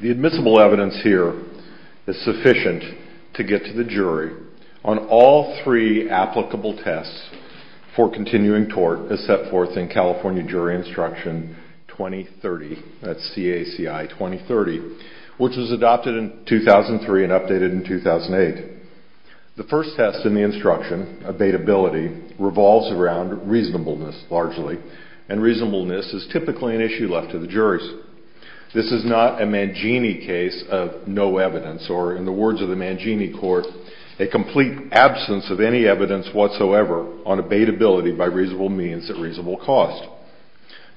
The admissible evidence here is sufficient to get to the jury on all three applicable tests for continuing tort as set forth in California Jury Instruction 20-30, which was adopted in 2003 and updated in 2008. The first test in the instruction, abatability, revolves around reasonableness, largely, and reasonableness is typically an issue left to the juries. This is not a Mangini case of no evidence, or in the words of the Mangini Court, a complete absence of any evidence whatsoever on abatability by reasonable means at reasonable cost.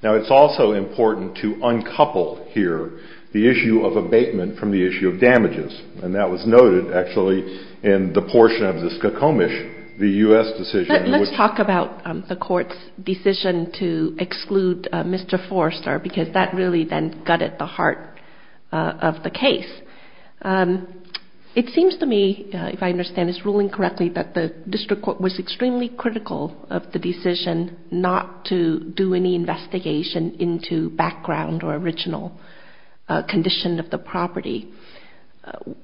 Now it's also important to uncouple here the issue of abatement from the issue of damages, and that was noted, actually, in the portion of the Skokomish, the U.S. decision. Let's talk about the court's decision to exclude Mr. Forster, because that really then gutted the heart of the case. It seems to me, if I understand this ruling correctly, that the district court was extremely critical of the decision not to do any investigation into background or original condition of the property.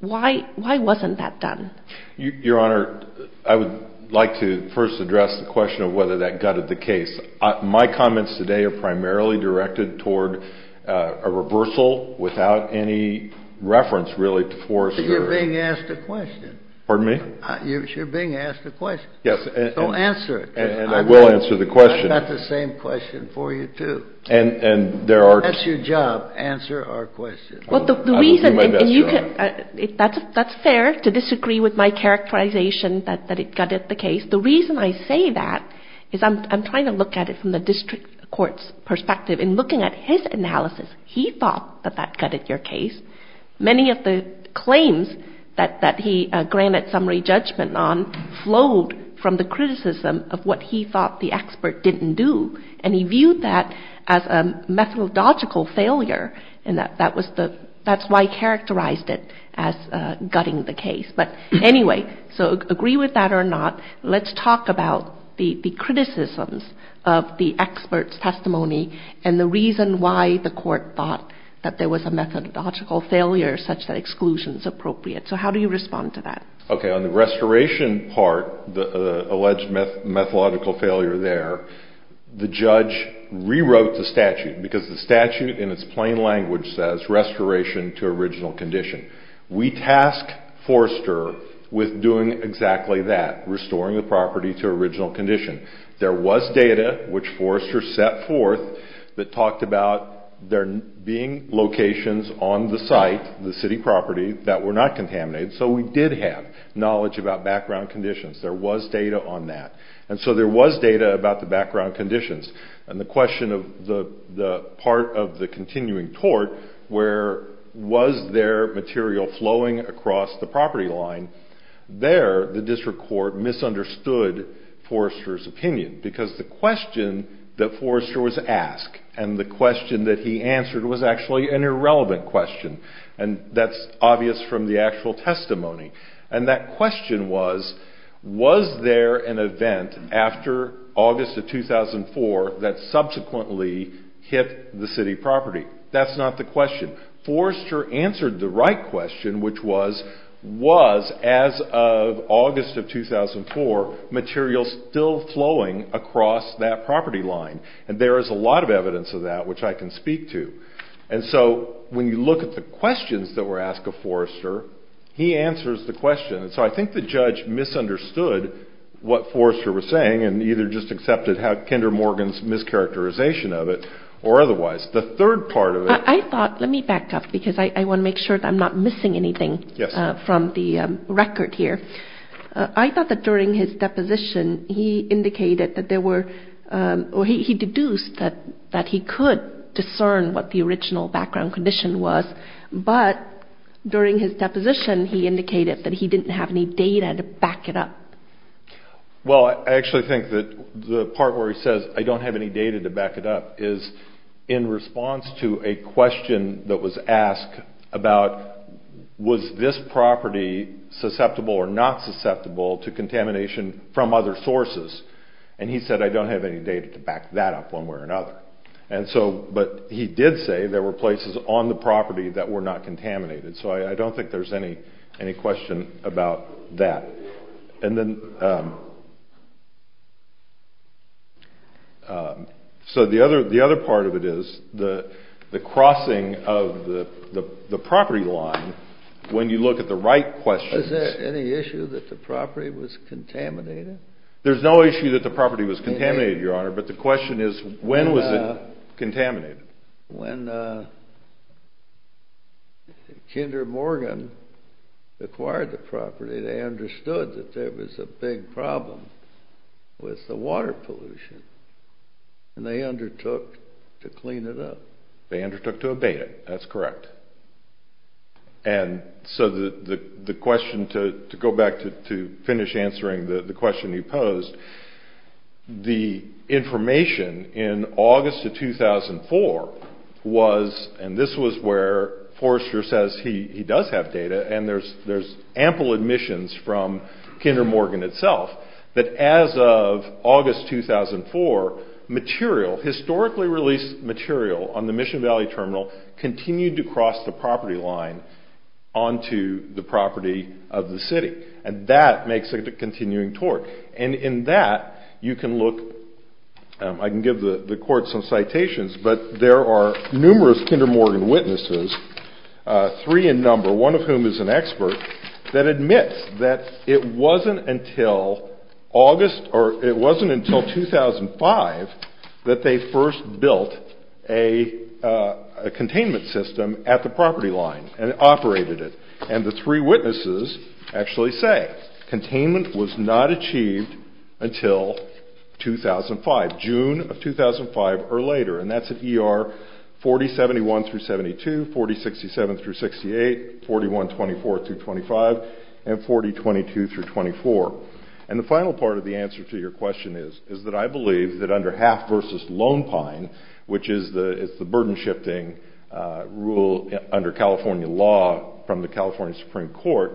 Why wasn't that done? Your Honor, I would like to first address the question of whether that gutted the case. My comments today are primarily directed toward a reversal without any reference, really, to Forster. But you're being asked a question. Pardon me? You're being asked a question. Yes. Go answer it. And I will answer the question. I've got the same question for you, too. And there are — That's your job. Answer our question. Well, the reason — I will do my best, Your Honor. That's fair to disagree with my characterization that it gutted the case. The reason I say that is I'm trying to look at it from the district court's perspective. In looking at his analysis, he thought that that gutted your case. Many of the claims that he granted summary judgment on flowed from the criticism of what he thought the expert didn't do. And he viewed that as a methodological failure. And that was the — that's why he characterized it as gutting the case. But anyway, so agree with that or not, let's talk about the criticisms of the expert's testimony and the reason why the court thought that there was a methodological failure such that exclusion is appropriate. So how do you respond to that? OK. On the restoration part, the alleged methodological failure there, the judge rewrote the statute because the statute in its plain language says restoration to original condition. We task Forrester with doing exactly that, restoring the property to original condition. There was data which Forrester set forth that talked about there being locations on the site, the city property, that were not contaminated. So we did have knowledge about background conditions. There was data on that. And so there was data about the background conditions. And the question of the part of the continuing tort where was there material flowing across the property line, there the district court misunderstood Forrester's opinion. Because the question that Forrester was asked and the question that he answered was actually an irrelevant question. And that's obvious from the actual testimony. And that question was, was there an event after August of 2004 that subsequently hit the city property? That's not the question. Forrester answered the right question, which was, was as of August of 2004, material still flowing across that property line. And there is a lot of evidence of that which I can speak to. And so when you look at the questions that were asked of Forrester, he answers the question. And so I think the judge misunderstood what Forrester was saying and either just accepted Kendra Morgan's mischaracterization of it or otherwise. The third part of it. I thought, let me back up because I want to make sure that I'm not missing anything from the record here. I thought that during his deposition, he indicated that there were, or he deduced that he could discern what the original background condition was. But during his deposition, he indicated that he didn't have any data to back it up. Well, I actually think that the part where he says, I don't have any data to back it up is in response to a question that was asked about, was this property susceptible or not susceptible to contamination from other sources? And he said, I don't have any data to back that up one way or another. And so, but he did say there were places on the property that were not contaminated. So I don't think there's any question about that. And then, so the other part of it is the crossing of the property line when you look at the right questions. Is there any issue that the property was contaminated? There's no issue that the property was contaminated, Your Honor, but the question is, when was it contaminated? When Kinder Morgan acquired the property, they understood that there was a big problem with the water pollution, and they undertook to clean it up. They undertook to abate it, that's correct. And so the question, to go back to finish answering the question you posed, the information in August of 2004 was, and this was where Forrester says he does have data, and there's ample admissions from Kinder Morgan itself, that as of August 2004, material, historically released material on the Mission Valley Terminal continued to cross the property line onto the property of the city. And that makes it a continuing tort. And in that, you can look, I can give the court some citations, but there are numerous Kinder Morgan witnesses, three in number, one of whom is an expert, that admits that it wasn't until 2005 that they first built a containment system at the property line and operated it. And the three witnesses actually say containment was not achieved until 2005, June of 2005 or later. And that's at ER 4071-72, 4067-68, 4124-25, and 4022-24. And the final part of the answer to your question is that I believe that under Half v. Lone Pine, which is the burden shifting rule under California law from the California Supreme Court,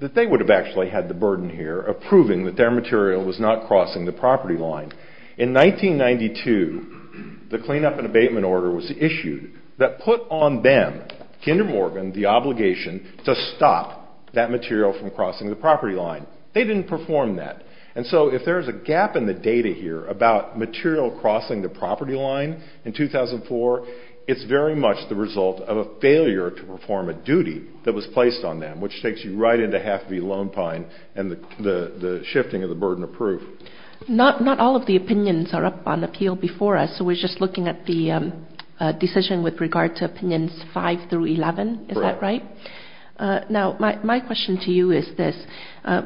that they would have actually had the burden here of proving that their material was not crossing the property line. In 1992, the cleanup and abatement order was issued that put on them, Kinder Morgan, the obligation to stop that material from crossing the property line. They didn't perform that. And so if there's a gap in the data here about material crossing the property line in 2004, it's very much the result of a failure to perform a duty that was placed on them, which takes you right into Half v. Lone Pine and the shifting of the burden of proof. Not all of the opinions are up on appeal before us, so we're just looking at the decision with regard to Opinions 5 through 11. Is that right? Correct. Now, my question to you is this.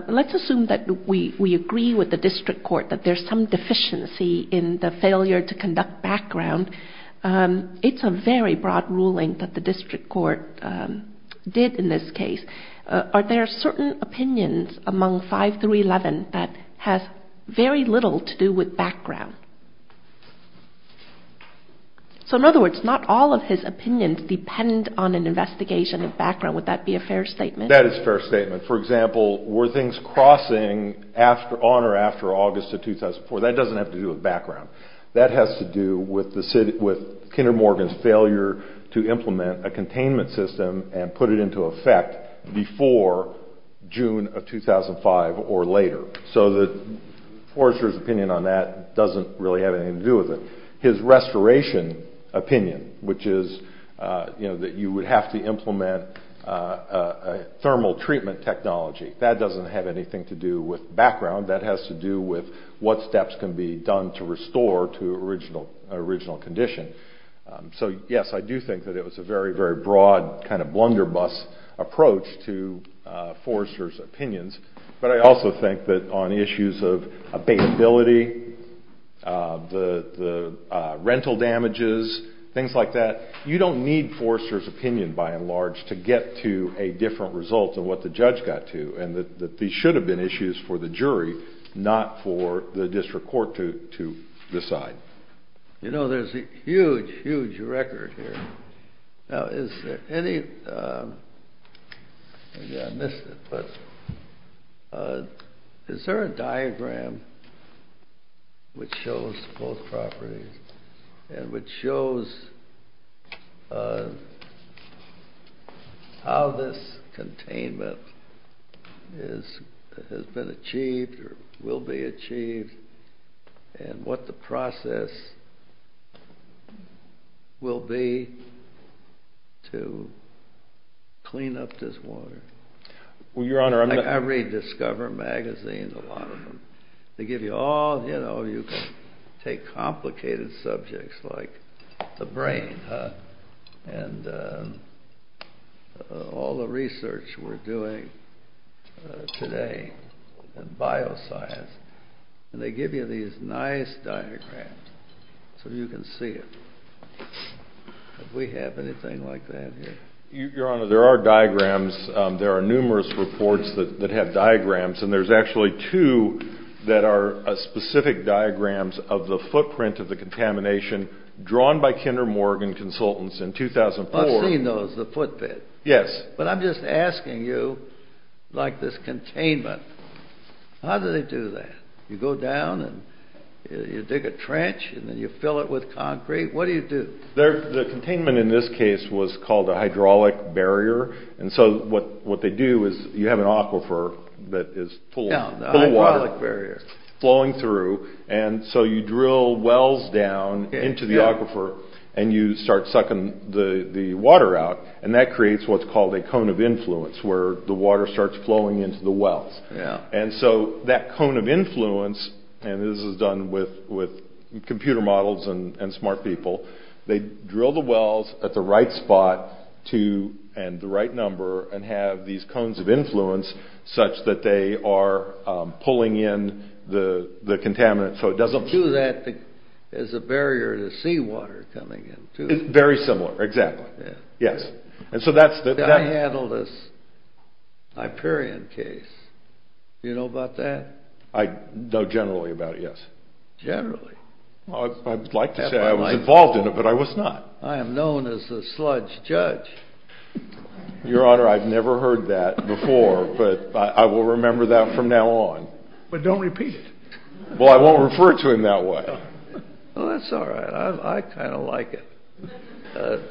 Let's assume that we agree with the district court that there's some deficiency in the failure to conduct background. It's a very broad ruling that the district court did in this case. Are there certain opinions among 5 through 11 that has very little to do with background? So in other words, not all of his opinions depend on an investigation of background. Would that be a fair statement? That is a fair statement. For example, were things crossing on or after August of 2004? That doesn't have to do with background. That has to do with Kinder Morgan's failure to implement a containment system and put it into effect before June of 2005 or later. So Forrester's opinion on that doesn't really have anything to do with it. His restoration opinion, which is that you would have to implement thermal treatment technology, that doesn't have anything to do with background. That has to do with what steps can be done to restore to original condition. So yes, I do think that it was a very, very broad kind of blunderbuss approach to Forrester's opinions. But I also think that on issues of abatability, the rental damages, things like that, you don't need Forrester's opinion, by and large, to get to a different result than what the judge got to. And that these should have been issues for the jury, not for the district court to decide. You know, there's a huge, huge record here. Now, is there any, I missed it, but is there a diagram which shows both properties, and which shows how this containment has been achieved or will be achieved, and what the process will be to clean up this water? Well, your honor, I read Discover magazine, a lot of them. They give you all, you know, you can take complicated subjects like the brain, and all the research we're doing today in bioscience. And they give you these nice diagrams so you can see it. Do we have anything like that here? Your honor, there are diagrams, there are numerous reports that have diagrams, and there's actually two that are specific diagrams of the footprint of the contamination drawn by Kinder Morgan Consultants in 2004. I've seen those, the footprint. Yes. But I'm just asking you, like this containment, how do they do that? You go down and you dig a trench, and then you fill it with concrete. What do you do? The containment in this case was called a hydraulic barrier. And so what they do is you have an aquifer that is full of water flowing through, and so you drill wells down into the aquifer, and you start sucking the water out. And that creates what's called a cone of influence, where the water starts flowing into the wells. And so that cone of influence, and this is done with computer models and smart people, they drill the wells at the right spot and the right number, and have these cones of influence such that they are pulling in the contaminant so it doesn't... And to that is a barrier to seawater coming in, too. Very similar, exactly. Yes. I handled this Hyperion case. You know about that? I know generally about it, yes. Generally? I'd like to say I was involved in it, but I was not. I am known as the sludge judge. Your Honor, I've never heard that before, but I will remember that from now on. But don't repeat it. Well, I won't refer to him that way. Well, that's all right. I kind of like it.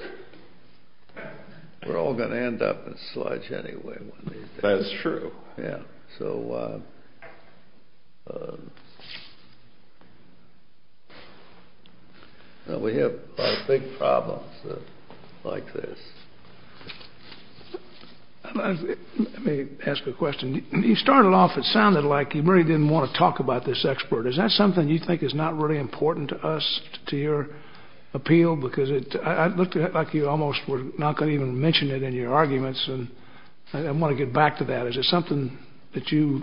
We're all going to end up in sludge anyway one day. That's true. Yeah. So we have big problems like this. Let me ask a question. You started off, it sounded like you really didn't want to talk about this expert. Is that something you think is not really important to us, to your appeal? Because it looked like you almost were not going to even mention it in your arguments. And I want to get back to that. Is it something that you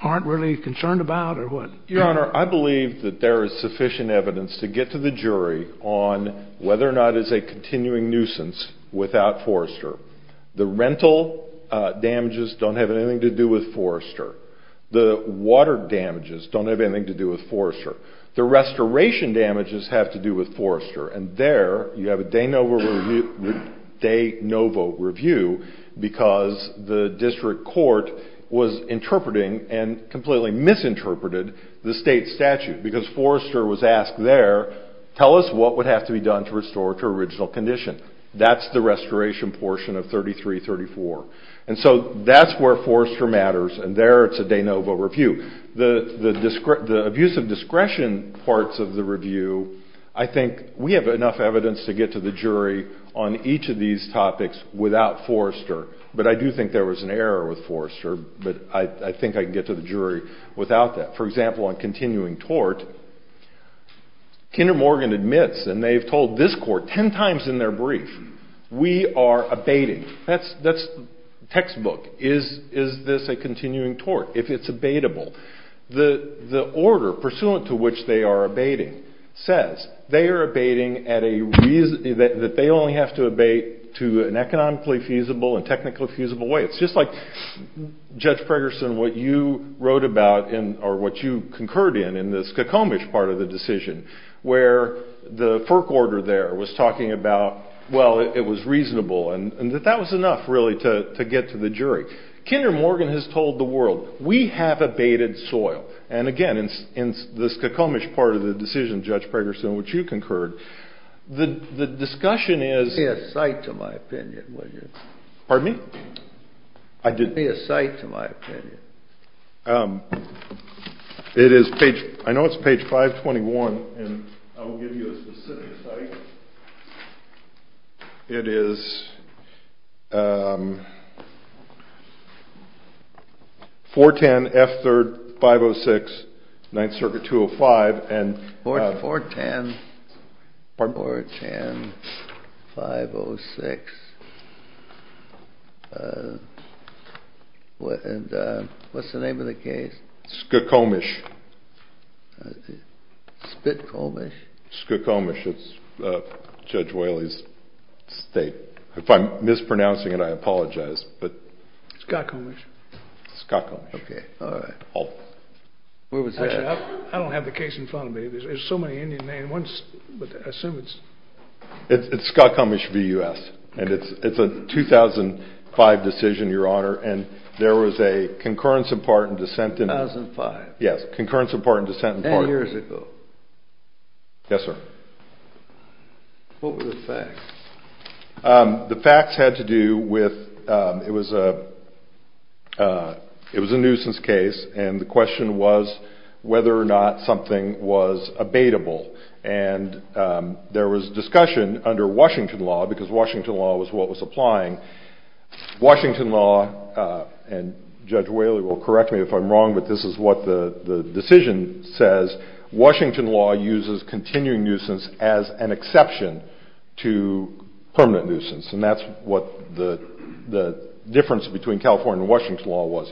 aren't really concerned about or what? Your Honor, I believe that there is sufficient evidence to get to the jury on whether or not it's a continuing nuisance without Forrester. The rental damages don't have anything to do with Forrester. The water damages don't have anything to do with Forrester. The restoration damages have to do with Forrester. And there you have a de novo review because the district court was interpreting and completely misinterpreted the state statute because Forrester was asked there, tell us what would have to be done to restore to original condition. That's the restoration portion of 33-34. And so that's where Forrester matters. And there it's a de novo review. The abuse of discretion parts of the review, I think we have enough evidence to get to the jury on each of these topics without Forrester. But I do think there was an error with Forrester. But I think I can get to the jury without that. For example, on continuing tort, Kinder Morgan admits and they've told this court 10 times in their brief, we are abating. That's textbook. Is this a continuing tort if it's abatable? The order pursuant to which they are abating says they are abating at a reason, that they only have to abate to an economically feasible and technically feasible way. It's just like, Judge Pregerson, what you wrote about or what you concurred in the Skokomish part of the decision where the FERC order there was talking about, well, it was reasonable and that that was enough really to get to the jury. Kinder Morgan has told the world, we have abated soil. And again, in the Skokomish part of the decision, Judge Pregerson, which you concurred, the discussion is- Give me a cite to my opinion, will you? Pardon me? I did- Give me a cite to my opinion. I know it's page 521 and I'll give you a specific cite. It is 410 F3rd 506, 9th Circuit 205 and- 410- Pardon? 410 506. What's the name of the case? Skokomish. Spitkomish? Skokomish. It's Judge Whaley's state. If I'm mispronouncing it, I apologize, but- Skokomish. Skokomish. Okay, all right. What was that? I don't have the case in front of me. There's so many Indian names. It's Skokomish v. U.S. and it's a 2005 decision, Your Honor. And there was a concurrence in part and dissent in- 2005. Yes, concurrence in part and dissent in part- 10 years ago. Yes, sir. What were the facts? The facts had to do with, it was a nuisance case and the question was whether or not something was abatable. And there was discussion under Washington law because Washington law was what was applying. Washington law, and Judge Whaley will correct me if I'm wrong, but this is what the decision says. Washington law uses continuing nuisance as an exception to permanent nuisance. And that's what the difference between California and Washington law was.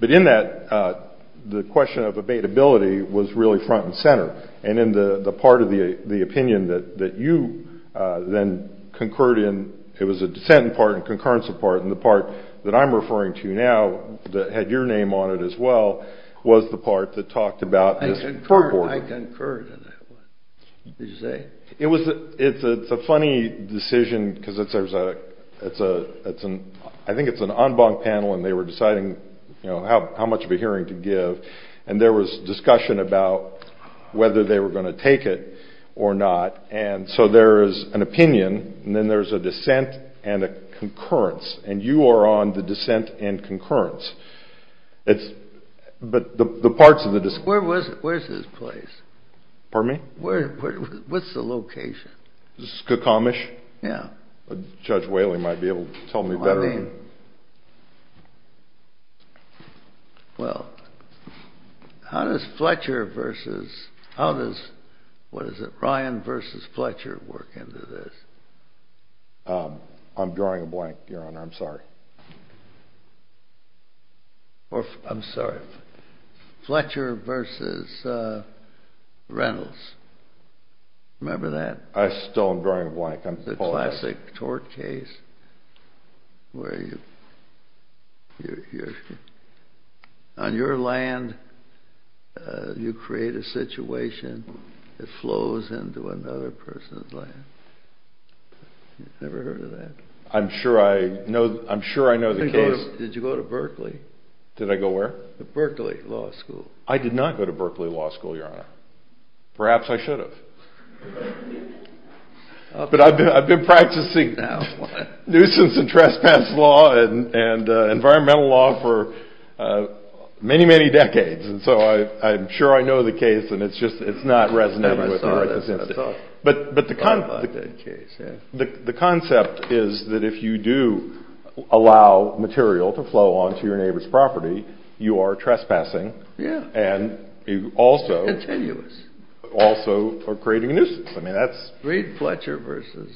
But in that, the question of abatability was really front and center. And in the part of the opinion that you then concurred in, it was a dissent in part and concurrence in part. And the part that I'm referring to now, that had your name on it as well, was the part that talked about- I concurred in that one. Did you say? It's a funny decision because I think it's an en banc panel and they were deciding how much of a hearing to give. And there was discussion about whether they were going to take it or not. And so there is an opinion and then there's a dissent and a concurrence. And you are on the dissent and concurrence. But the parts of the dissent- Where's his place? Pardon me? Where, what's the location? This is Cook Amish? Yeah. Judge Whaley might be able to tell me better. Well, how does Fletcher versus, how does, what is it, Ryan versus Fletcher work into this? I'm drawing a blank, Your Honor, I'm sorry. Fletcher versus Reynolds, remember that? I still am drawing a blank, I apologize. The classic tort case where you, on your land, you create a situation that flows into another person's land. You've never heard of that? I'm sure I know, I'm sure I know the case. Did you go to Berkeley? Did I go where? The Berkeley Law School. I did not go to Berkeley Law School, Your Honor. Perhaps I should have. But I've been practicing nuisance and trespass law and environmental law for many, many decades. And so I'm sure I know the case and it's just, it's not resonating with me right this instant. But the concept is that if you do allow material to flow onto your neighbor's property, you are trespassing and you also are creating a nuisance. I mean, that's... Read Fletcher versus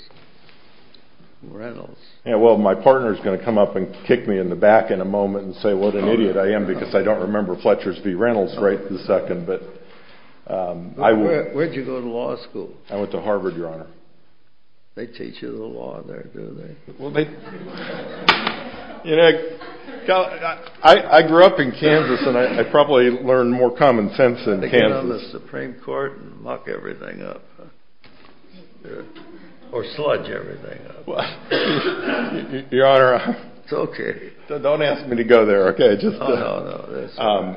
Reynolds. Yeah, well, my partner's going to come up and kick me in the back in a moment and say what an idiot I am because I don't remember Fletcher's v. Reynolds right this second. But I... Where'd you go to law school? I went to Harvard, Your Honor. They teach you the law there, do they? You know, I grew up in Kansas and I probably learned more common sense in Kansas. They get on the Supreme Court and muck everything up. Or sludge everything up. Well, Your Honor. It's okay. Don't ask me to go there, okay? Oh, no, no.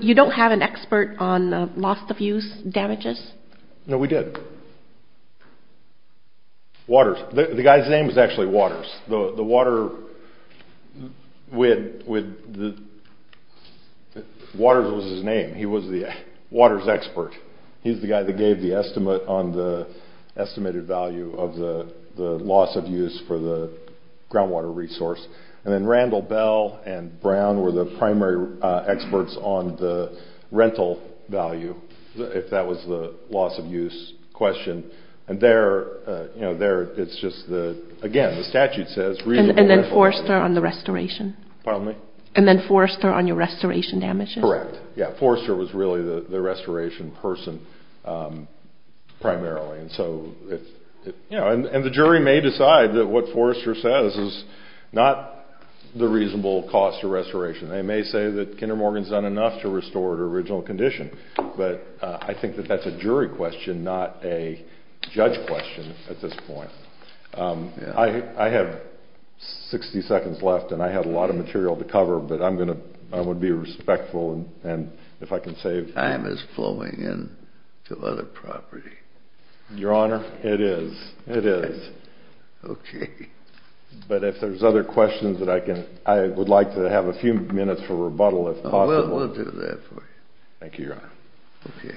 You don't have an expert on the loss of use damages? No, we did. Waters. The guy's name is actually Waters. Waters was his name. He was the Waters expert. He's the guy that gave the estimate on the estimated value of the loss of use for the groundwater resource. And then Randall Bell and Brown were the primary experts on the rental value, if that was the loss of use question. And there, you know, there it's just the... Again, the statute says reasonable... And then Forrester on the restoration? Pardon me? And then Forrester on your restoration damages? Correct. Yeah, Forrester was really the restoration person primarily. And so, you know, and the jury may decide that what Forrester says is not the reasonable cost of restoration. They may say that Kinder Morgan's done enough to restore to original condition. But I think that that's a jury question, not a judge question at this point. I have 60 seconds left and I have a lot of material to cover, but I'm going to... I would be respectful and if I can save... Time is flowing in to other property. Your Honor, it is. It is. Okay. But if there's other questions that I can... I would like to have a few minutes for rebuttal, if possible. We'll do that for you. Thank you, Your Honor. Okay.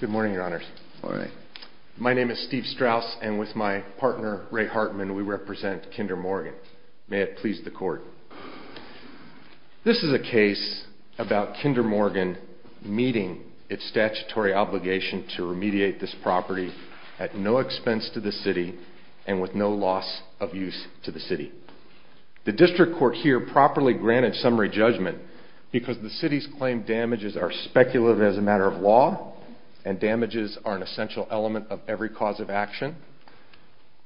Good morning, Your Honors. All right. My name is Steve Strauss and with my partner, Ray Hartman, we represent Kinder Morgan. May it please the court. This is a case about Kinder Morgan meeting its statutory obligation to remediate this property at no expense to the city and with no loss of use to the city. The district court here properly granted summary judgment because the city's claim damages are speculative as a matter of law and damages are an essential element of every cause of action,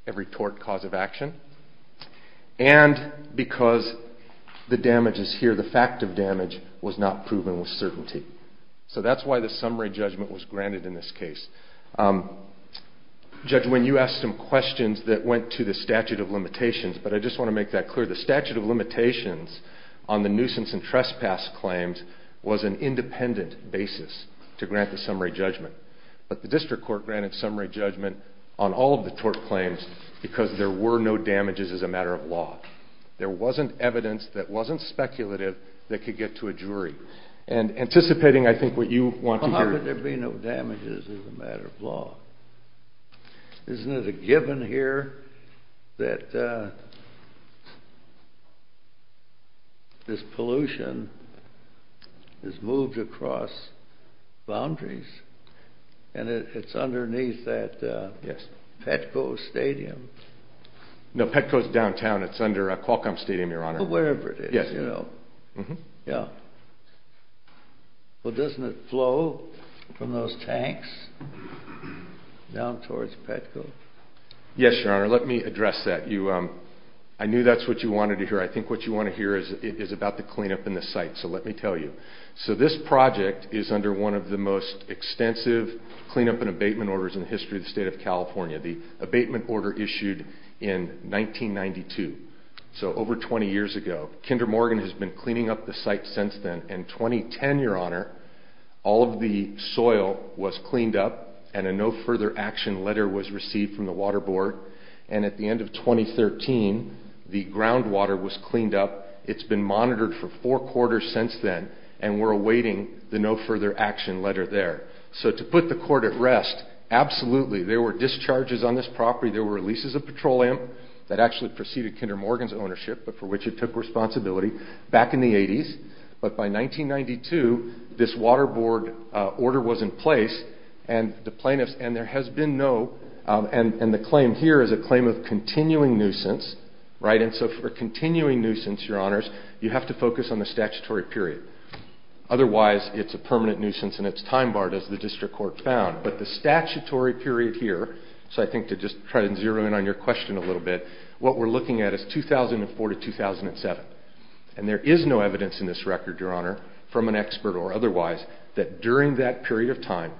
every tort cause of action, and because the damages here, the fact of damage, was not proven with certainty. So that's why the summary judgment was granted in this case. Judge, when you asked some questions that went to the statute of limitations, but I just want to make that clear. The statute of limitations on the nuisance and trespass claims was an independent basis to grant the summary judgment. But the district court granted summary judgment on all of the tort claims because there were no damages as a matter of law. There wasn't evidence that wasn't speculative that could get to a jury. And anticipating, I think, what you want to hear. How could there be no damages as a matter of law? Isn't it a given here that this pollution is moved across boundaries? And it's underneath that Petco Stadium. No, Petco's downtown. It's under Qualcomm Stadium, Your Honor. Wherever it is, you know. Yeah. Well, doesn't it flow from those tanks? Down towards Petco? Yes, Your Honor. Let me address that. I knew that's what you wanted to hear. I think what you want to hear is about the cleanup in the site. So let me tell you. So this project is under one of the most extensive cleanup and abatement orders in the history of the state of California. The abatement order issued in 1992. So over 20 years ago. Kinder Morgan has been cleaning up the site since then. In 2010, Your Honor, all of the soil was cleaned up. And a no further action letter was received from the water board. And at the end of 2013, the groundwater was cleaned up. It's been monitored for four quarters since then. And we're awaiting the no further action letter there. So to put the court at rest, absolutely. There were discharges on this property. There were leases of petroleum that actually preceded Kinder Morgan's ownership. But for which it took responsibility back in the 80s. But by 1992, this water board order was in place. And the plaintiffs, and there has been no, and the claim here is a claim of continuing nuisance, right? And so for continuing nuisance, Your Honors, you have to focus on the statutory period. Otherwise, it's a permanent nuisance and it's time barred as the district court found. But the statutory period here, so I think to just try to zero in on your question a little bit, what we're looking at is 2004 to 2007. And there is no evidence in this record, Your Honor, from an expert or otherwise, that during that period of time,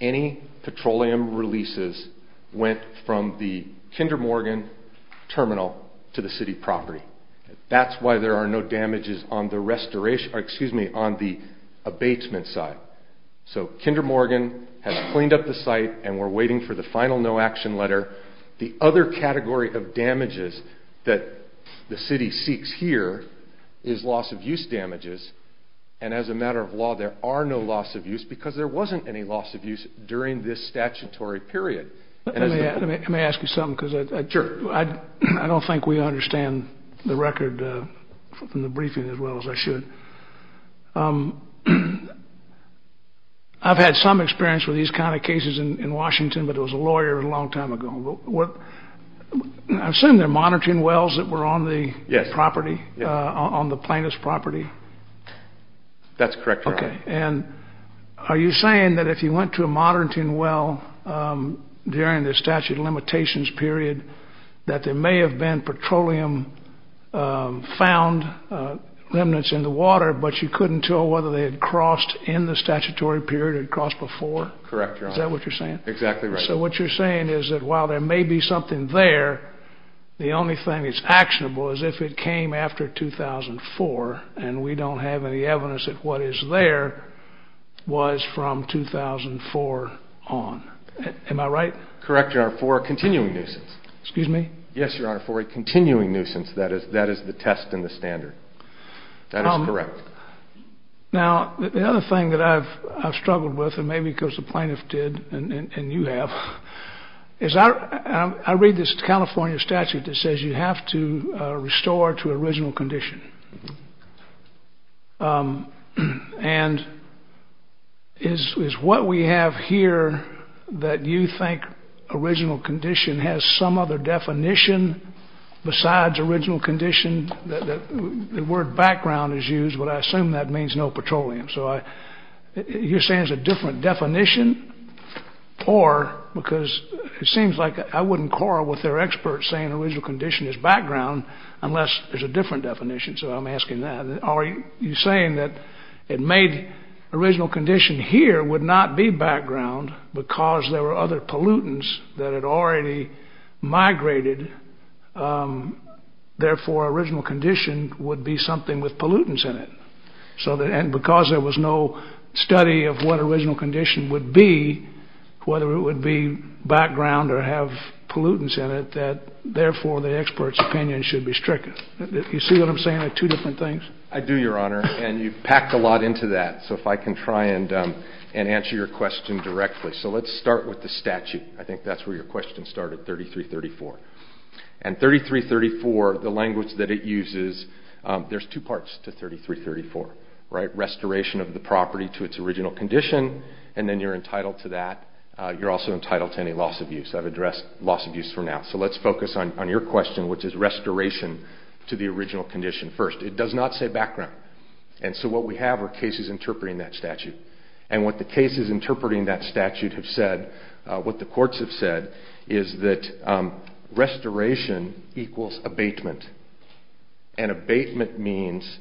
any petroleum releases went from the Kinder Morgan terminal to the city property. That's why there are no damages on the restoration, excuse me, on the abatement side. So Kinder Morgan has cleaned up the site and we're waiting for the final no action letter. The other category of damages that the city seeks here is loss of use damages. And as a matter of law, there are no loss of use because there wasn't any loss of use during this statutory period. Let me ask you something because I don't think we understand the record from the briefing as well as I should. I've had some experience with these kind of cases in Washington, but it was a lawyer a long time ago. I assume they're Monterton wells that were on the property, on the plaintiff's property. That's correct, Your Honor. And are you saying that if you went to a Monterton well during the statute of limitations period, that there may have been petroleum found remnants in the water, but you couldn't tell whether they had crossed in the statutory period or crossed before? Correct, Your Honor. Is that what you're saying? Exactly right. So what you're saying is that while there may be something there, the only thing that's actionable is if it came after 2004 and we don't have any evidence that what is there was from 2004 on. Am I right? Correct, Your Honor, for a continuing nuisance. Excuse me? Yes, Your Honor, for a continuing nuisance. That is the test and the standard. That is correct. Now, the other thing that I've struggled with, and maybe because the plaintiff did and you have, is I read this California statute that says you have to restore to original condition. And is what we have here that you think original condition has some other definition besides original condition? The word background is used, but I assume that means no petroleum. So you're saying it's a different definition? Or, because it seems like I wouldn't quarrel with their experts saying original condition is background unless there's a different definition. So I'm asking that. Are you saying that it made original condition here would not be background because there were other pollutants that had already migrated? Therefore, original condition would be something with pollutants in it. And because there was no study of what original condition would be, whether it would be background or have pollutants in it, that therefore the expert's opinion should be stricken. You see what I'm saying? They're two different things. I do, Your Honor, and you've packed a lot into that. So if I can try and answer your question directly. So let's start with the statute. I think that's where your question started, 3334. And 3334, the language that it uses, there's two parts to 3334. Restoration of the property to its original condition, and then you're entitled to that. You're also entitled to any loss of use. I've addressed loss of use for now. So let's focus on your question, which is restoration to the original condition first. It does not say background. And so what we have are cases interpreting that statute. And what the cases interpreting that statute have said, what the courts have said, is that restoration equals abatement. And abatement means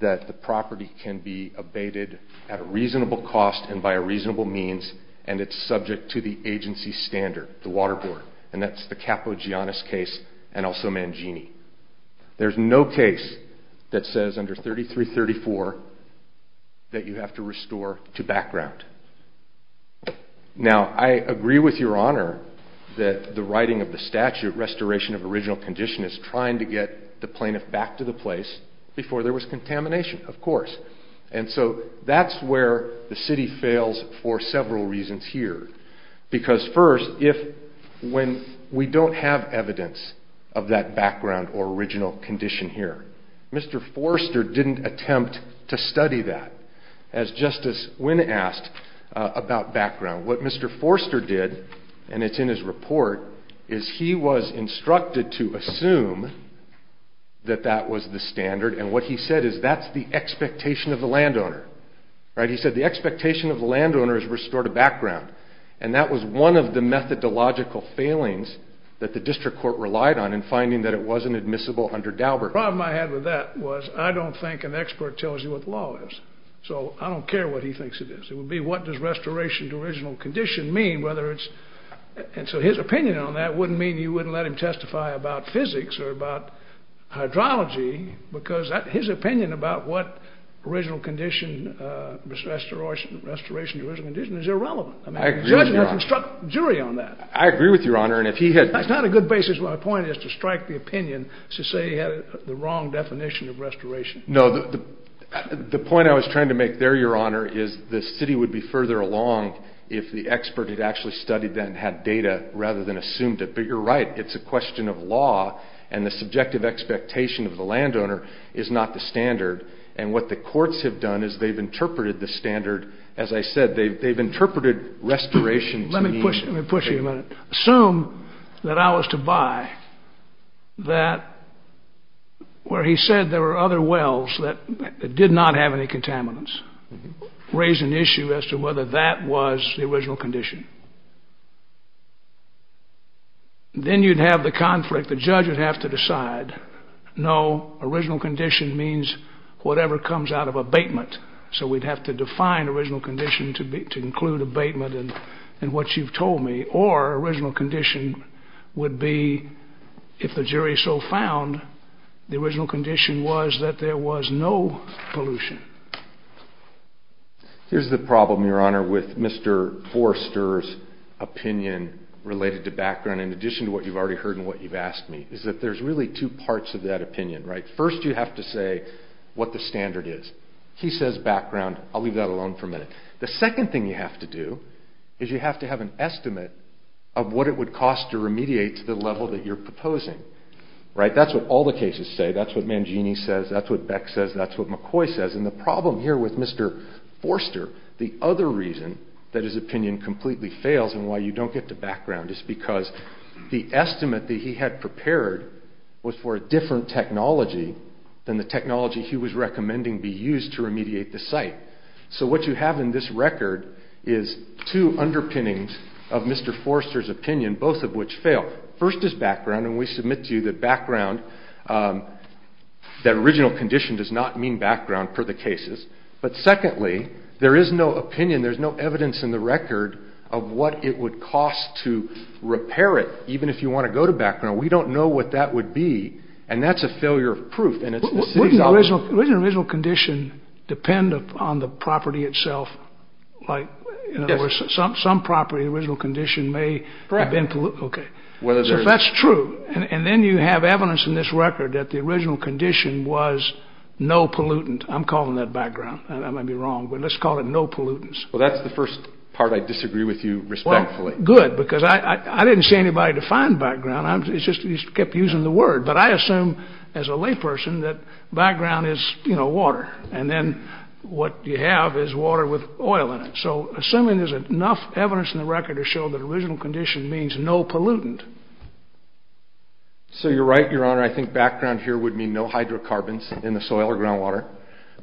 that the property can be abated at a reasonable cost and by a reasonable means, and it's subject to the agency standard, the water board. And that's the Capo Giannis case, and also Mangini. There's no case that says under 3334 that you have to restore to background. Now, I agree with Your Honor that the writing of the statute, restoration of original condition, is trying to get the plaintiff back to the place before there was contamination, of course. And so that's where the city fails for several reasons here. Because first, if when we don't have evidence of that background or original condition here, Mr. Forster didn't attempt to study that. As Justice Wynne asked about background, what Mr. Forster did, and it's in his report, is he was instructed to assume that that was the standard. And what he said is that's the expectation of the landowner. Right? He said the expectation of the landowner is restore to background. And that was one of the methodological failings that the district court relied on in finding that it wasn't admissible under Daubert. The problem I had with that was I don't think an expert tells you what the law is. So I don't care what he thinks it is. It would be what does restoration to original condition mean, whether it's... And so his opinion on that wouldn't mean you wouldn't let him testify about physics or about hydrology, because his opinion about what original condition, restoration to original condition is irrelevant. I mean, the judge has to instruct the jury on that. I agree with you, Your Honor. And if he had... That's not a good basis. My point is to strike the opinion to say he had the wrong definition of restoration. No, the point I was trying to make there, Your Honor, is the city would be further along if the expert had actually studied that and had data rather than assumed it. But you're right. It's a question of law. And the subjective expectation of the landowner is not the standard. And what the courts have done is they've interpreted the standard. As I said, they've interpreted restoration to mean... Let me push you a minute. Assume that I was to buy that where he said there were other wells that did not have any original condition. Then you'd have the conflict. The judge would have to decide. No, original condition means whatever comes out of abatement. So we'd have to define original condition to include abatement and what you've told me. Or original condition would be if the jury so found the original condition was that there was no pollution. Here's the problem, Your Honor, with Mr. Forrester's opinion related to background in addition to what you've already heard and what you've asked me, is that there's really two parts of that opinion, right? First, you have to say what the standard is. He says background. I'll leave that alone for a minute. The second thing you have to do is you have to have an estimate of what it would cost to remediate to the level that you're proposing, right? That's what all the cases say. That's what Mangini says. That's what Beck says. That's what McCoy says. The problem here with Mr. Forrester, the other reason that his opinion completely fails and why you don't get to background is because the estimate that he had prepared was for a different technology than the technology he was recommending be used to remediate the site. So what you have in this record is two underpinnings of Mr. Forrester's opinion, both of which fail. First is background, and we submit to you that background, that original condition does not mean background per the cases. But secondly, there is no opinion. There's no evidence in the record of what it would cost to repair it, even if you want to go to background. We don't know what that would be, and that's a failure of proof. And it's the city's office. Wouldn't the original condition depend upon the property itself? Like, in other words, some property, the original condition may have been polluted. Correct. Okay. So if that's true, and then you have evidence in this record that the original condition was no pollutant, I'm calling that background. I might be wrong, but let's call it no pollutants. Well, that's the first part I disagree with you respectfully. Good, because I didn't say anybody defined background. I'm just, you kept using the word. But I assume as a layperson that background is, you know, water. And then what you have is water with oil in it. So assuming there's enough evidence in the record to show that original condition means no pollutant. So you're right, Your Honor. I think background here would mean no hydrocarbons in the soil or groundwater.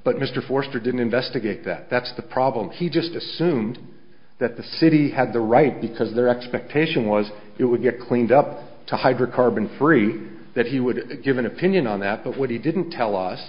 But Mr. Forster didn't investigate that. That's the problem. He just assumed that the city had the right, because their expectation was it would get cleaned up to hydrocarbon-free, that he would give an opinion on that. But what he didn't tell us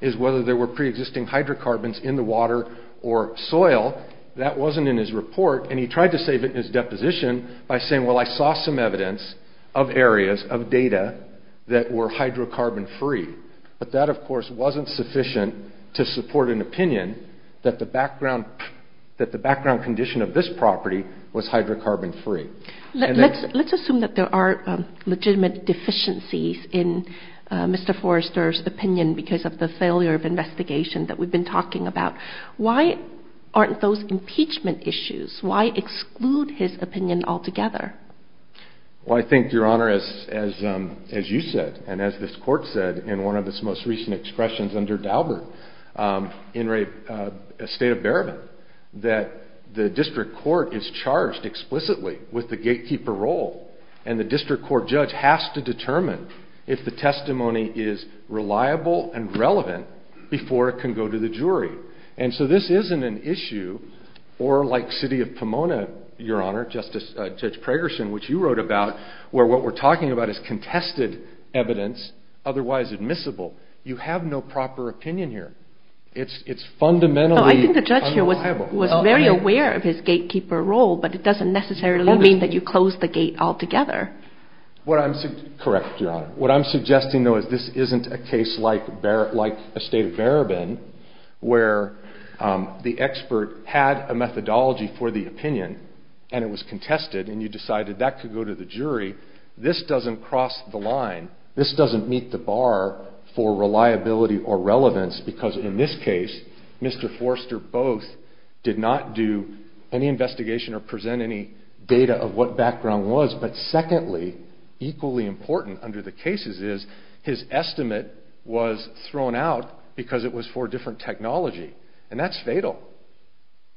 is whether there were pre-existing hydrocarbons in the water or soil. That wasn't in his report. And he tried to save it in his deposition by saying, well, I saw some evidence of areas of data that were hydrocarbon-free. But that, of course, wasn't sufficient to support an opinion that the background condition of this property was hydrocarbon-free. Let's assume that there are legitimate deficiencies in Mr. Forster's opinion because of the failure of investigation that we've been talking about. Why aren't those impeachment issues? Why exclude his opinion altogether? Well, I think, Your Honor, as you said, and as this court said in one of its most recent expressions under Daubert, in a state of bereavement, that the district court is charged explicitly with the gatekeeper role. And the district court judge has to determine if the testimony is reliable and relevant before it can go to the jury. And so this isn't an issue, or like City of Pomona, Your Honor, Judge Pragerson, which you wrote about, where what we're talking about is contested evidence, otherwise admissible. You have no proper opinion here. It's fundamentally unreliable. I think the judge here was very aware of his gatekeeper role, but it doesn't necessarily mean that you close the gate altogether. Correct, Your Honor. What I'm suggesting, though, is this isn't a case like a state of Barabin, where the expert had a methodology for the opinion, and it was contested, and you decided that could go to the jury. This doesn't cross the line. This doesn't meet the bar for reliability or relevance, because in this case, Mr. Forster both did not do any investigation or present any data of what background was, but secondly, equally important under the cases is his estimate was thrown out because it was for different technology. And that's fatal,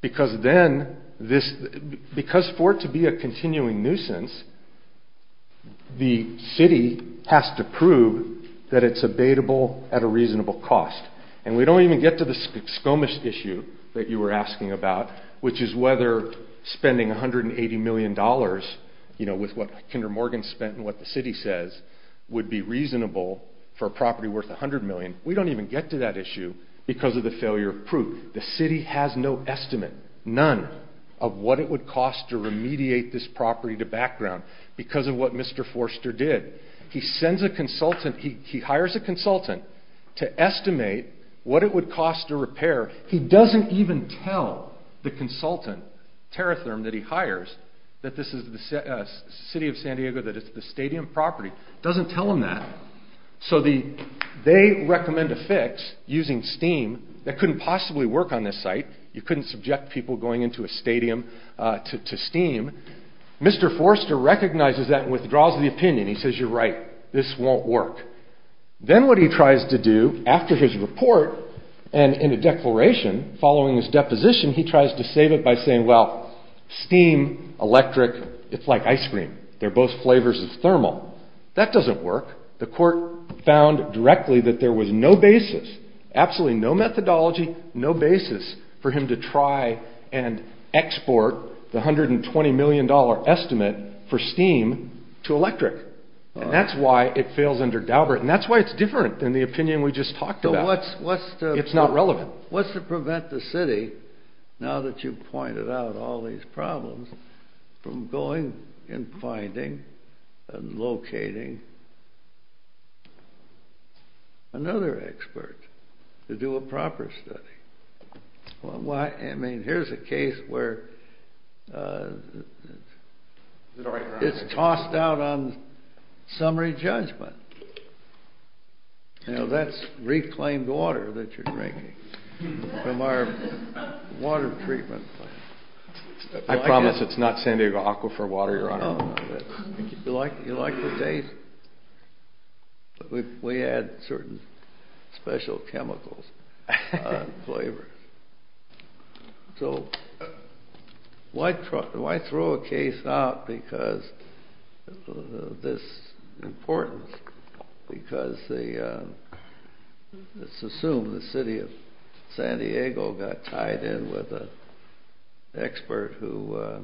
because then this, because for it to be a continuing nuisance, the city has to prove that it's abatable at a reasonable cost. And we don't even get to the skomish issue that you were asking about, which is whether spending $180 million with what Kinder Morgan spent and what the city says would be reasonable for a property worth $100 million. We don't even get to that issue because of the failure of proof. The city has no estimate, none, of what it would cost to remediate this property to background because of what Mr. Forster did. He hires a consultant to estimate what it would cost to repair. He doesn't even tell the consultant, Teratherm, that he hires, that this is the city of San Diego, that it's the stadium property, doesn't tell him that. So they recommend a fix using steam that couldn't possibly work on this site. You couldn't subject people going into a stadium to steam. Mr. Forster recognizes that and withdraws the opinion. He says, you're right, this won't work. Then what he tries to do after his report and in a declaration following his deposition, he tries to save it by saying, well, steam, electric, it's like ice cream. They're both flavors of thermal. That doesn't work. The court found directly that there was no basis, absolutely no methodology, no basis for him to try and export the $120 million estimate for steam to electric. And that's why it fails under Daubert. And that's why it's different than the opinion we just talked about. It's not relevant. What's to prevent the city, now that you've pointed out all these problems, from going and finding and locating another expert to do a proper study? Well, I mean, here's a case where it's tossed out on summary judgment. You know, that's reclaimed water that you're drinking from our water treatment plant. I promise it's not San Diego Aquifer water, Your Honor. You like the taste. But we add certain special chemicals on flavors. So why throw a case out because of this importance? Because let's assume the city of San Diego got tied in with an expert who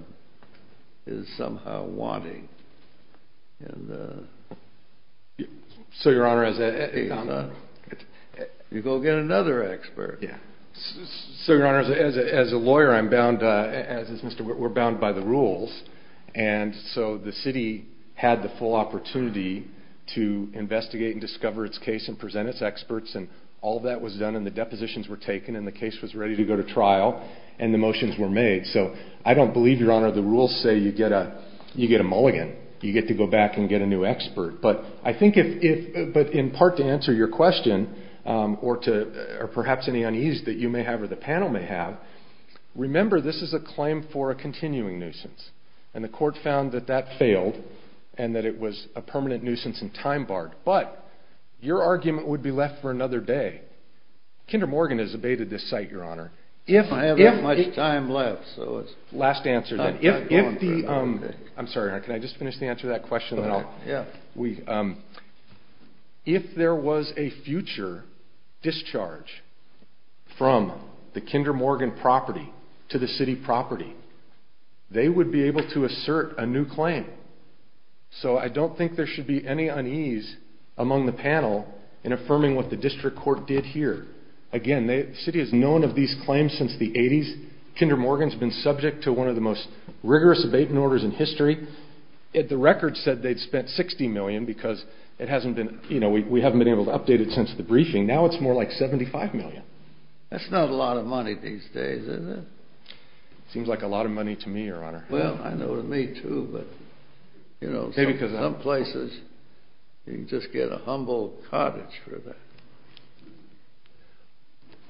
is somehow wanting. So, Your Honor, as a lawyer, we're bound by the rules. And so the city had the full opportunity to investigate and discover its case and present its experts. And all that was done. And the depositions were taken. And the case was ready to go to trial. And the motions were made. So I don't believe, Your Honor, the rules say you get a mulligan. You get to go back and get a new expert. But I think if, but in part to answer your question, or perhaps any unease that you may have or the panel may have, remember, this is a claim for a continuing nuisance. And the court found that that failed and that it was a permanent nuisance and time barred. But your argument would be left for another day. Kinder Morgan has abated this site, Your Honor. If I have that much time left, so it's. Last answer. I'm sorry, Your Honor, can I just finish the answer to that question? If there was a future discharge from the Kinder Morgan property to the city property, they would be able to assert a new claim. So I don't think there should be any unease among the panel in affirming what the district court did here. Again, the city has known of these claims since the 80s. Kinder Morgan's been subject to one of the most rigorous abatement orders in history. Yet the record said they'd spent $60 million because it hasn't been, you know, we haven't been able to update it since the briefing. Now it's more like $75 million. That's not a lot of money these days, is it? It seems like a lot of money to me, Your Honor. Well, I know to me too, but, you know, some places you just get a humble cottage for that.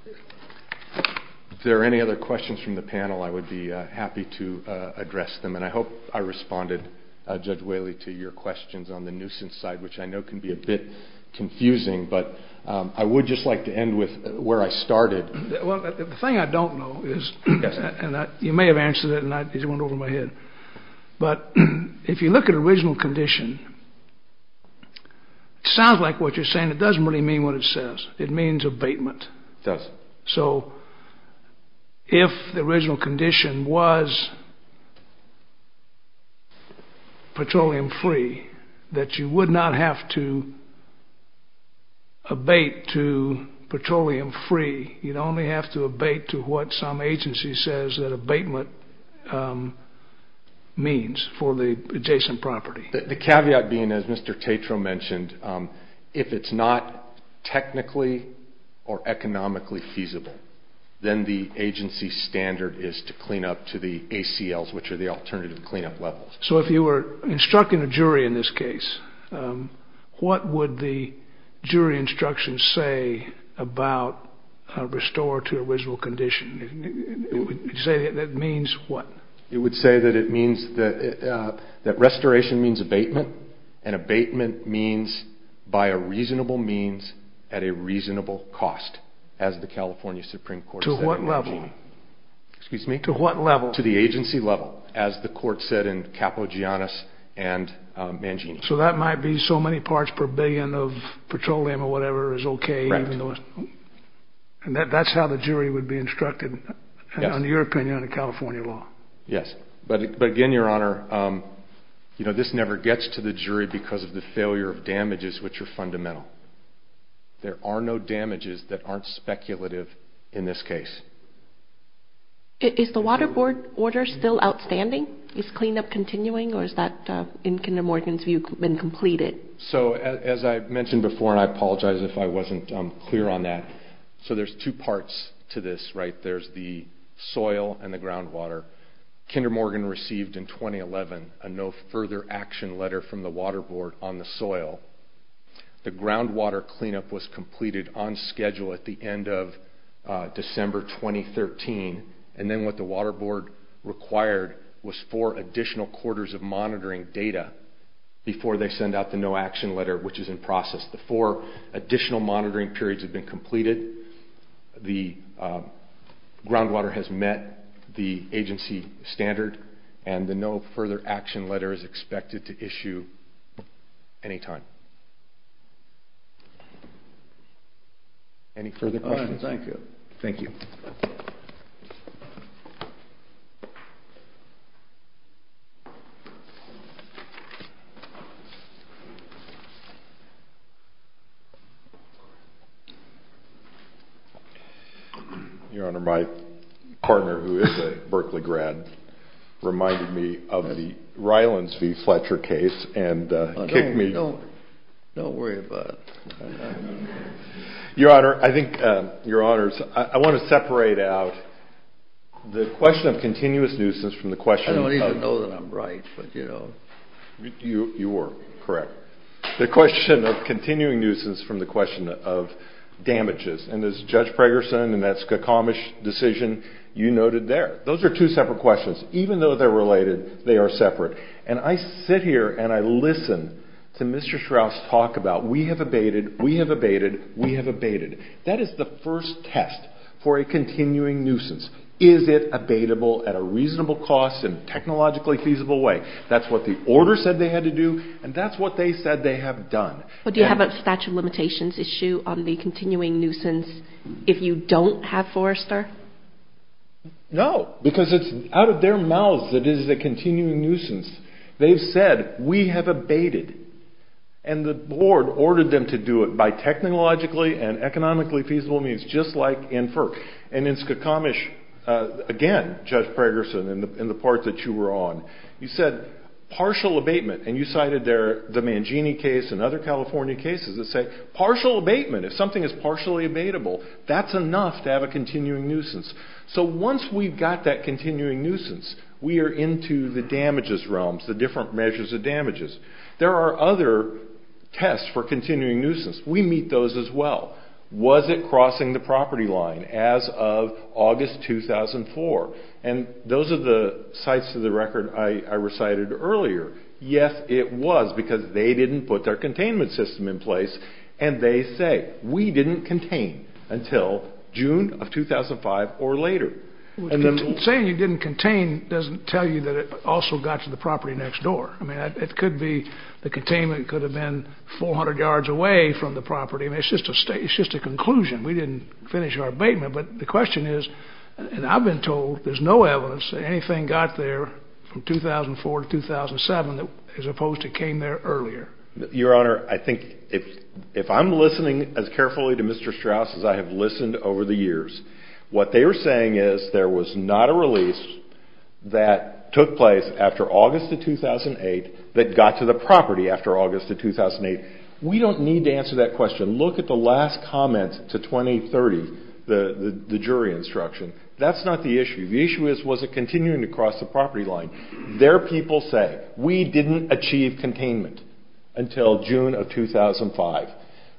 If there are any other questions from the panel, I would be happy to address them. And I hope I responded, Judge Whaley, to your questions on the nuisance side, which I know can be a bit confusing, but I would just like to end with where I started. Well, the thing I don't know is, and you may have answered it and it just went over my head, but if you look at original condition, it sounds like what you're saying, it doesn't really mean what it says. It means abatement. It does. So if the original condition was petroleum free, that you would not have to abate to petroleum free. You'd only have to abate to what some agency says that abatement means for the adjacent property. The caveat being, as Mr. Tatro mentioned, if it's not technically or economically feasible, then the agency standard is to clean up to the ACLs, which are the alternative cleanup levels. So if you were instructing a jury in this case, what would the jury instructions say about restore to original condition? It would say that it means what? It would say that restoration means abatement, and abatement means by a reasonable means at a reasonable cost, as the California Supreme Court said. To what level? Excuse me? To what level? To the agency level, as the court said in Capogiannis and Mangini. So that might be so many parts per billion of petroleum or whatever is okay, even though that's how the jury would be instructed, in your opinion, in a California law. Yes. But again, Your Honor, this never gets to the jury because of the failure of damages, which are fundamental. There are no damages that aren't speculative in this case. Is the Water Board order still outstanding? Is cleanup continuing, or has that, in Kinder Morgan's view, been completed? So as I mentioned before, and I apologize if I wasn't clear on that, so there's two parts to this, right? The soil and the groundwater. Kinder Morgan received in 2011 a no further action letter from the Water Board on the soil. The groundwater cleanup was completed on schedule at the end of December 2013, and then what the Water Board required was four additional quarters of monitoring data before they send out the no action letter, which is in process. The four additional monitoring periods have been completed. The groundwater has met the agency standard, and the no further action letter is expected to issue any time. Any further questions? All right. Thank you. Your Honor, my partner, who is a Berkeley grad, reminded me of the Rylands v. Fletcher case and kicked me. Don't worry about it. Your Honor, I think, Your Honors, I want to separate out the question of continuous nuisance from the question of- I don't even know that I'm right, but you know. You are correct. The question of continuing nuisance from the question of damages, and as Judge Pregerson and that's a commish decision, you noted there. Those are two separate questions. Even though they're related, they are separate, and I sit here and I listen to Mr. Strauss talk about we have abated, we have abated, we have abated. That is the first test for a continuing nuisance. Is it abatable at a reasonable cost and technologically feasible way? That's what the order said they had to do, and that's what they said they have done. But do you have a statute of limitations issue on the continuing nuisance if you don't have Forrester? No, because it's out of their mouths that it is a continuing nuisance. They've said we have abated, and the board ordered them to do it by technologically and economically feasible means, just like in FERC. And in Skokomish, again, Judge Pregerson, in the part that you were on, you said partial abatement, and you cited the Mangini case and other California cases that say partial abatement. If something is partially abatable, that's enough to have a continuing nuisance. So once we've got that continuing nuisance, we are into the damages realms, the different measures of damages. There are other tests for continuing nuisance. We meet those as well. Was it crossing the property line as of August 2004? And those are the sites of the record I recited earlier. Yes, it was, because they didn't put their containment system in place, and they say we didn't contain until June of 2005 or later. Well, saying you didn't contain doesn't tell you that it also got to the property next door. I mean, it could be the containment could have been 400 yards away from the property. I mean, it's just a conclusion. We didn't finish our abatement. But the question is, and I've been told there's no evidence that anything got there from 2004 to 2007 as opposed to came there earlier. Your Honor, I think if I'm listening as carefully to Mr. Strauss as I have listened over the years, what they were saying is there was not a release that took place after August of 2008 that got to the property after August of 2008. We don't need to answer that question. Look at the last comment to 2030, the jury instruction. That's not the issue. The issue is, was it continuing to cross the property line? Their people say, we didn't achieve containment until June of 2005.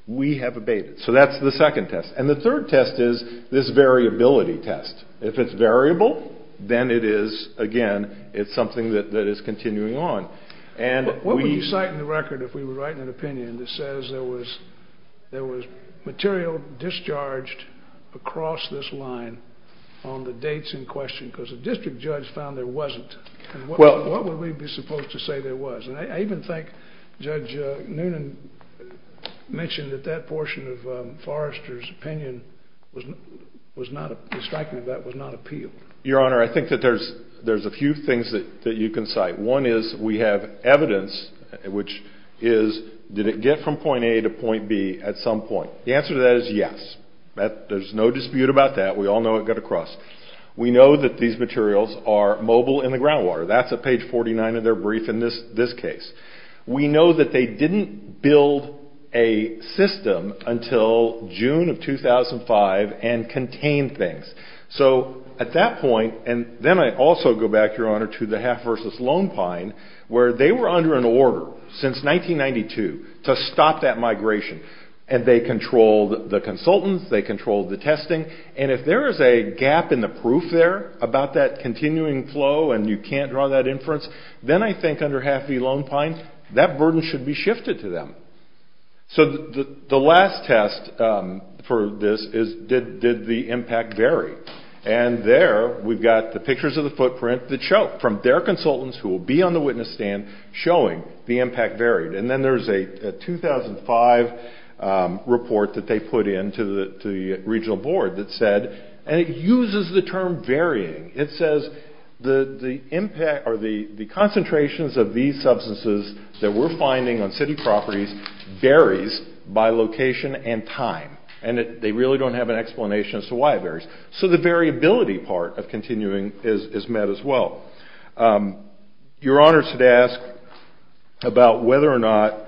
We have abated. So that's the second test. And the third test is this variability test. If it's variable, then it is, again, it's something that is continuing on. And what would you cite in the record if we were writing an opinion that says there was material discharged across this line on the dates in question? Because the district judge found there wasn't. What would we be supposed to say there was? And I even think Judge Noonan mentioned that that portion of Forrester's opinion was not, the striking of that, was not appealed. Your Honor, I think that there's a few things that you can cite. One is we have evidence which is, did it get from point A to point B at some point? The answer to that is yes. There's no dispute about that. We all know it got across. We know that these materials are mobile in the groundwater. That's at page 49 of their brief in this case. We know that they didn't build a system until June of 2005 and contained things. So at that point, and then I also go back, Your Honor, to the Half versus Lone Pine, where they were under an order since 1992 to stop that migration. And they controlled the consultants. They controlled the testing. And if there is a gap in the proof there about that continuing flow, and you can't draw that inference, then I think under Half versus Lone Pine, that burden should be shifted to them. So the last test for this is, did the impact vary? And there we've got the pictures of the footprint that show, from their consultants who will be on the witness stand, showing the impact varied. And then there's a 2005 report that they put in to the regional board that said, and it uses the term varying. It says the impact or the concentrations of these substances that we're finding on city properties varies by location and time. And they really don't have an explanation as to why it varies. So the variability part of continuing is met as well. Your Honor should ask about whether or not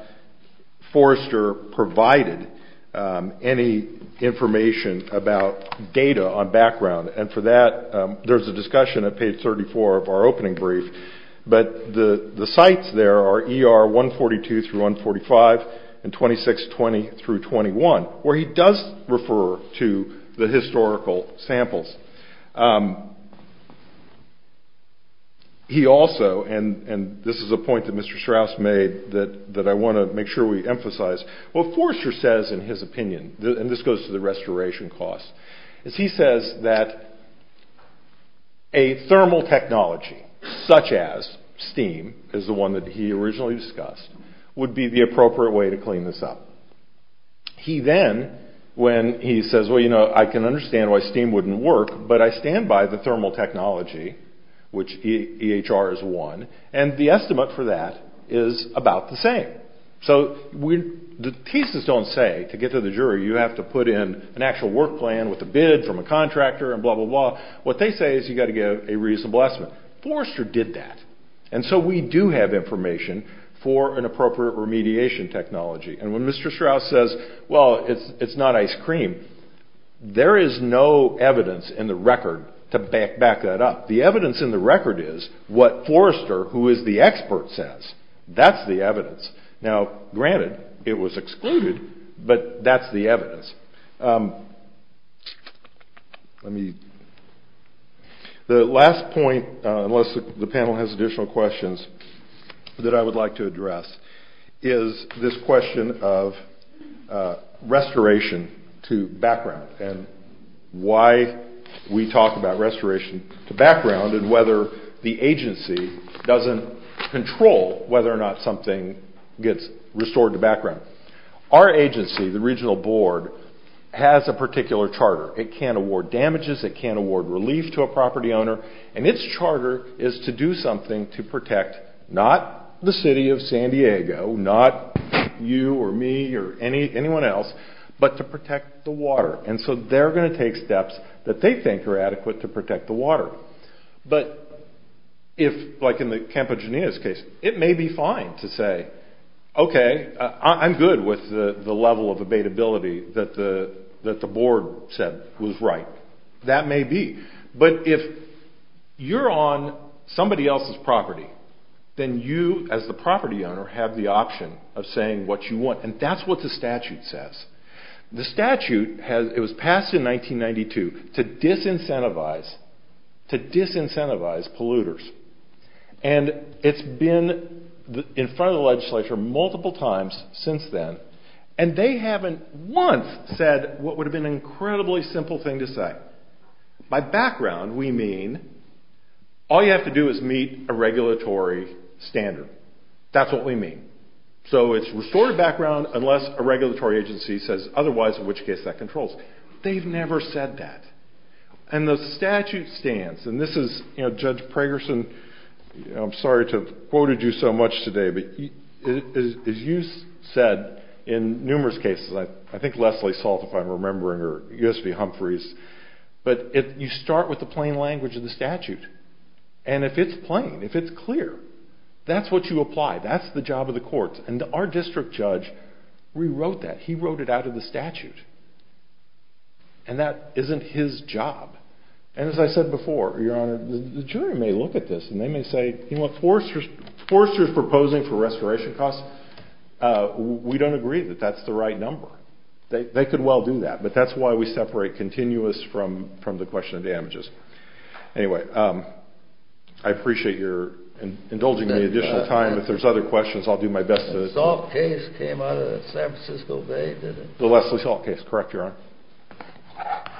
Forrester provided any information about data on background. And for that, there's a discussion at page 34 of our opening brief. But the sites there are ER 142 through 145 and 2620 through 21, where he does refer to the historical samples. He also, and this is a point that Mr. Strauss made that I want to make sure we emphasize, what Forrester says in his opinion, and this goes to the restoration cost, is he says that a thermal technology, such as steam, is the one that he originally discussed, would be the appropriate way to clean this up. He then, when he says, well, you know, I can understand why steam wouldn't work, but I stand by the thermal technology, which EHR is one, and the estimate for that is about the same. So the thesis don't say, to get to the jury, you have to put in an actual work plan with a bid from a contractor and blah, blah, blah. What they say is you got to give a reasonable estimate. Forrester did that. And so we do have information for an appropriate remediation technology. And when Mr. Strauss says, well, it's not ice cream, there is no evidence in the record to back that up. The evidence in the record is what Forrester, who is the expert, says. That's the evidence. Now, granted, it was excluded, but that's the evidence. The last point, unless the panel has additional questions that I would like to address, is this question of restoration to background and why we talk about restoration to background and whether the agency doesn't control whether or not something gets restored to background. Our agency, the regional board, has a particular charter. It can't award damages. It can't award relief to a property owner. And its charter is to do something to protect not the city of San Diego, not you or me or anyone else, but to protect the water. And so they're going to take steps that they think are adequate to protect the water. But if, like in the Campagenia's case, it may be fine to say, okay, I'm good with the level of abatability that the board said was right. That may be. But if you're on somebody else's property, then you, as the property owner, have the option of saying what you want. And that's what the statute says. The statute, it was passed in 1992 to disincentivize polluters. And it's been in front of the legislature multiple times since then. And they haven't once said what would have been an incredibly simple thing to say. By background, we mean all you have to do is meet a regulatory standard. That's what we mean. So it's restored background unless a regulatory agency says otherwise, in which case that controls. They've never said that. And the statute stands. And this is, you know, Judge Pragerson, I'm sorry to have quoted you so much today. But as you said in numerous cases, I think Leslie Salt, if I'm remembering, U.S. v. Humphreys, but you start with the plain language of the statute. And if it's plain, if it's clear, that's what you apply. That's the job of the courts. And our district judge rewrote that. He wrote it out of the statute. And that isn't his job. And as I said before, Your Honor, the jury may look at this and they may say, you know, foresters proposing for restoration costs, we don't agree that that's the right number. They could well do that. That's why we separate continuous from the question of damages. Anyway, I appreciate your indulging me additional time. If there's other questions, I'll do my best. The Salt case came out of San Francisco Bay, didn't it? The Leslie Salt case, correct, Your Honor.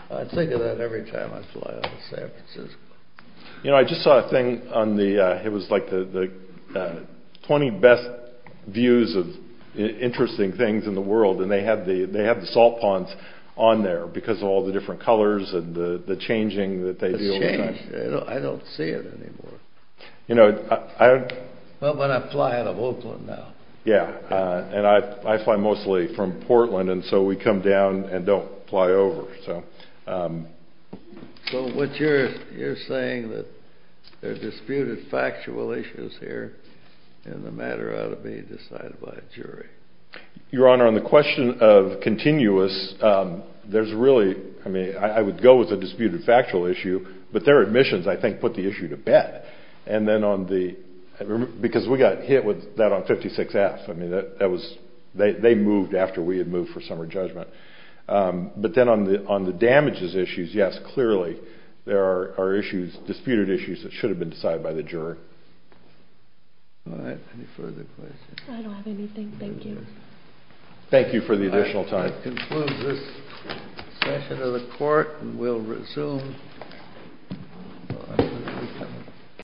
I think of that every time I fly out of San Francisco. You know, I just saw a thing on the, it was like the 20 best views of interesting things in the world. And they have the salt ponds on there because of all the different colors and the changing that they deal with. It's changed. I don't see it anymore. You know, I... Well, but I fly out of Oakland now. Yeah, and I fly mostly from Portland. And so we come down and don't fly over. So... So what you're saying that there's disputed factual issues here and the matter ought to be decided by a jury. Your Honor, on the question of continuous, there's really... I mean, I would go with a disputed factual issue, but their admissions, I think, put the issue to bed. And then on the... Because we got hit with that on 56F. I mean, that was... They moved after we had moved for summer judgment. But then on the damages issues, yes, clearly there are issues, disputed issues that should have been decided by the juror. All right, any further questions? I don't have anything. Thank you. Thank you for the additional time. That concludes this session of the court and we'll resume.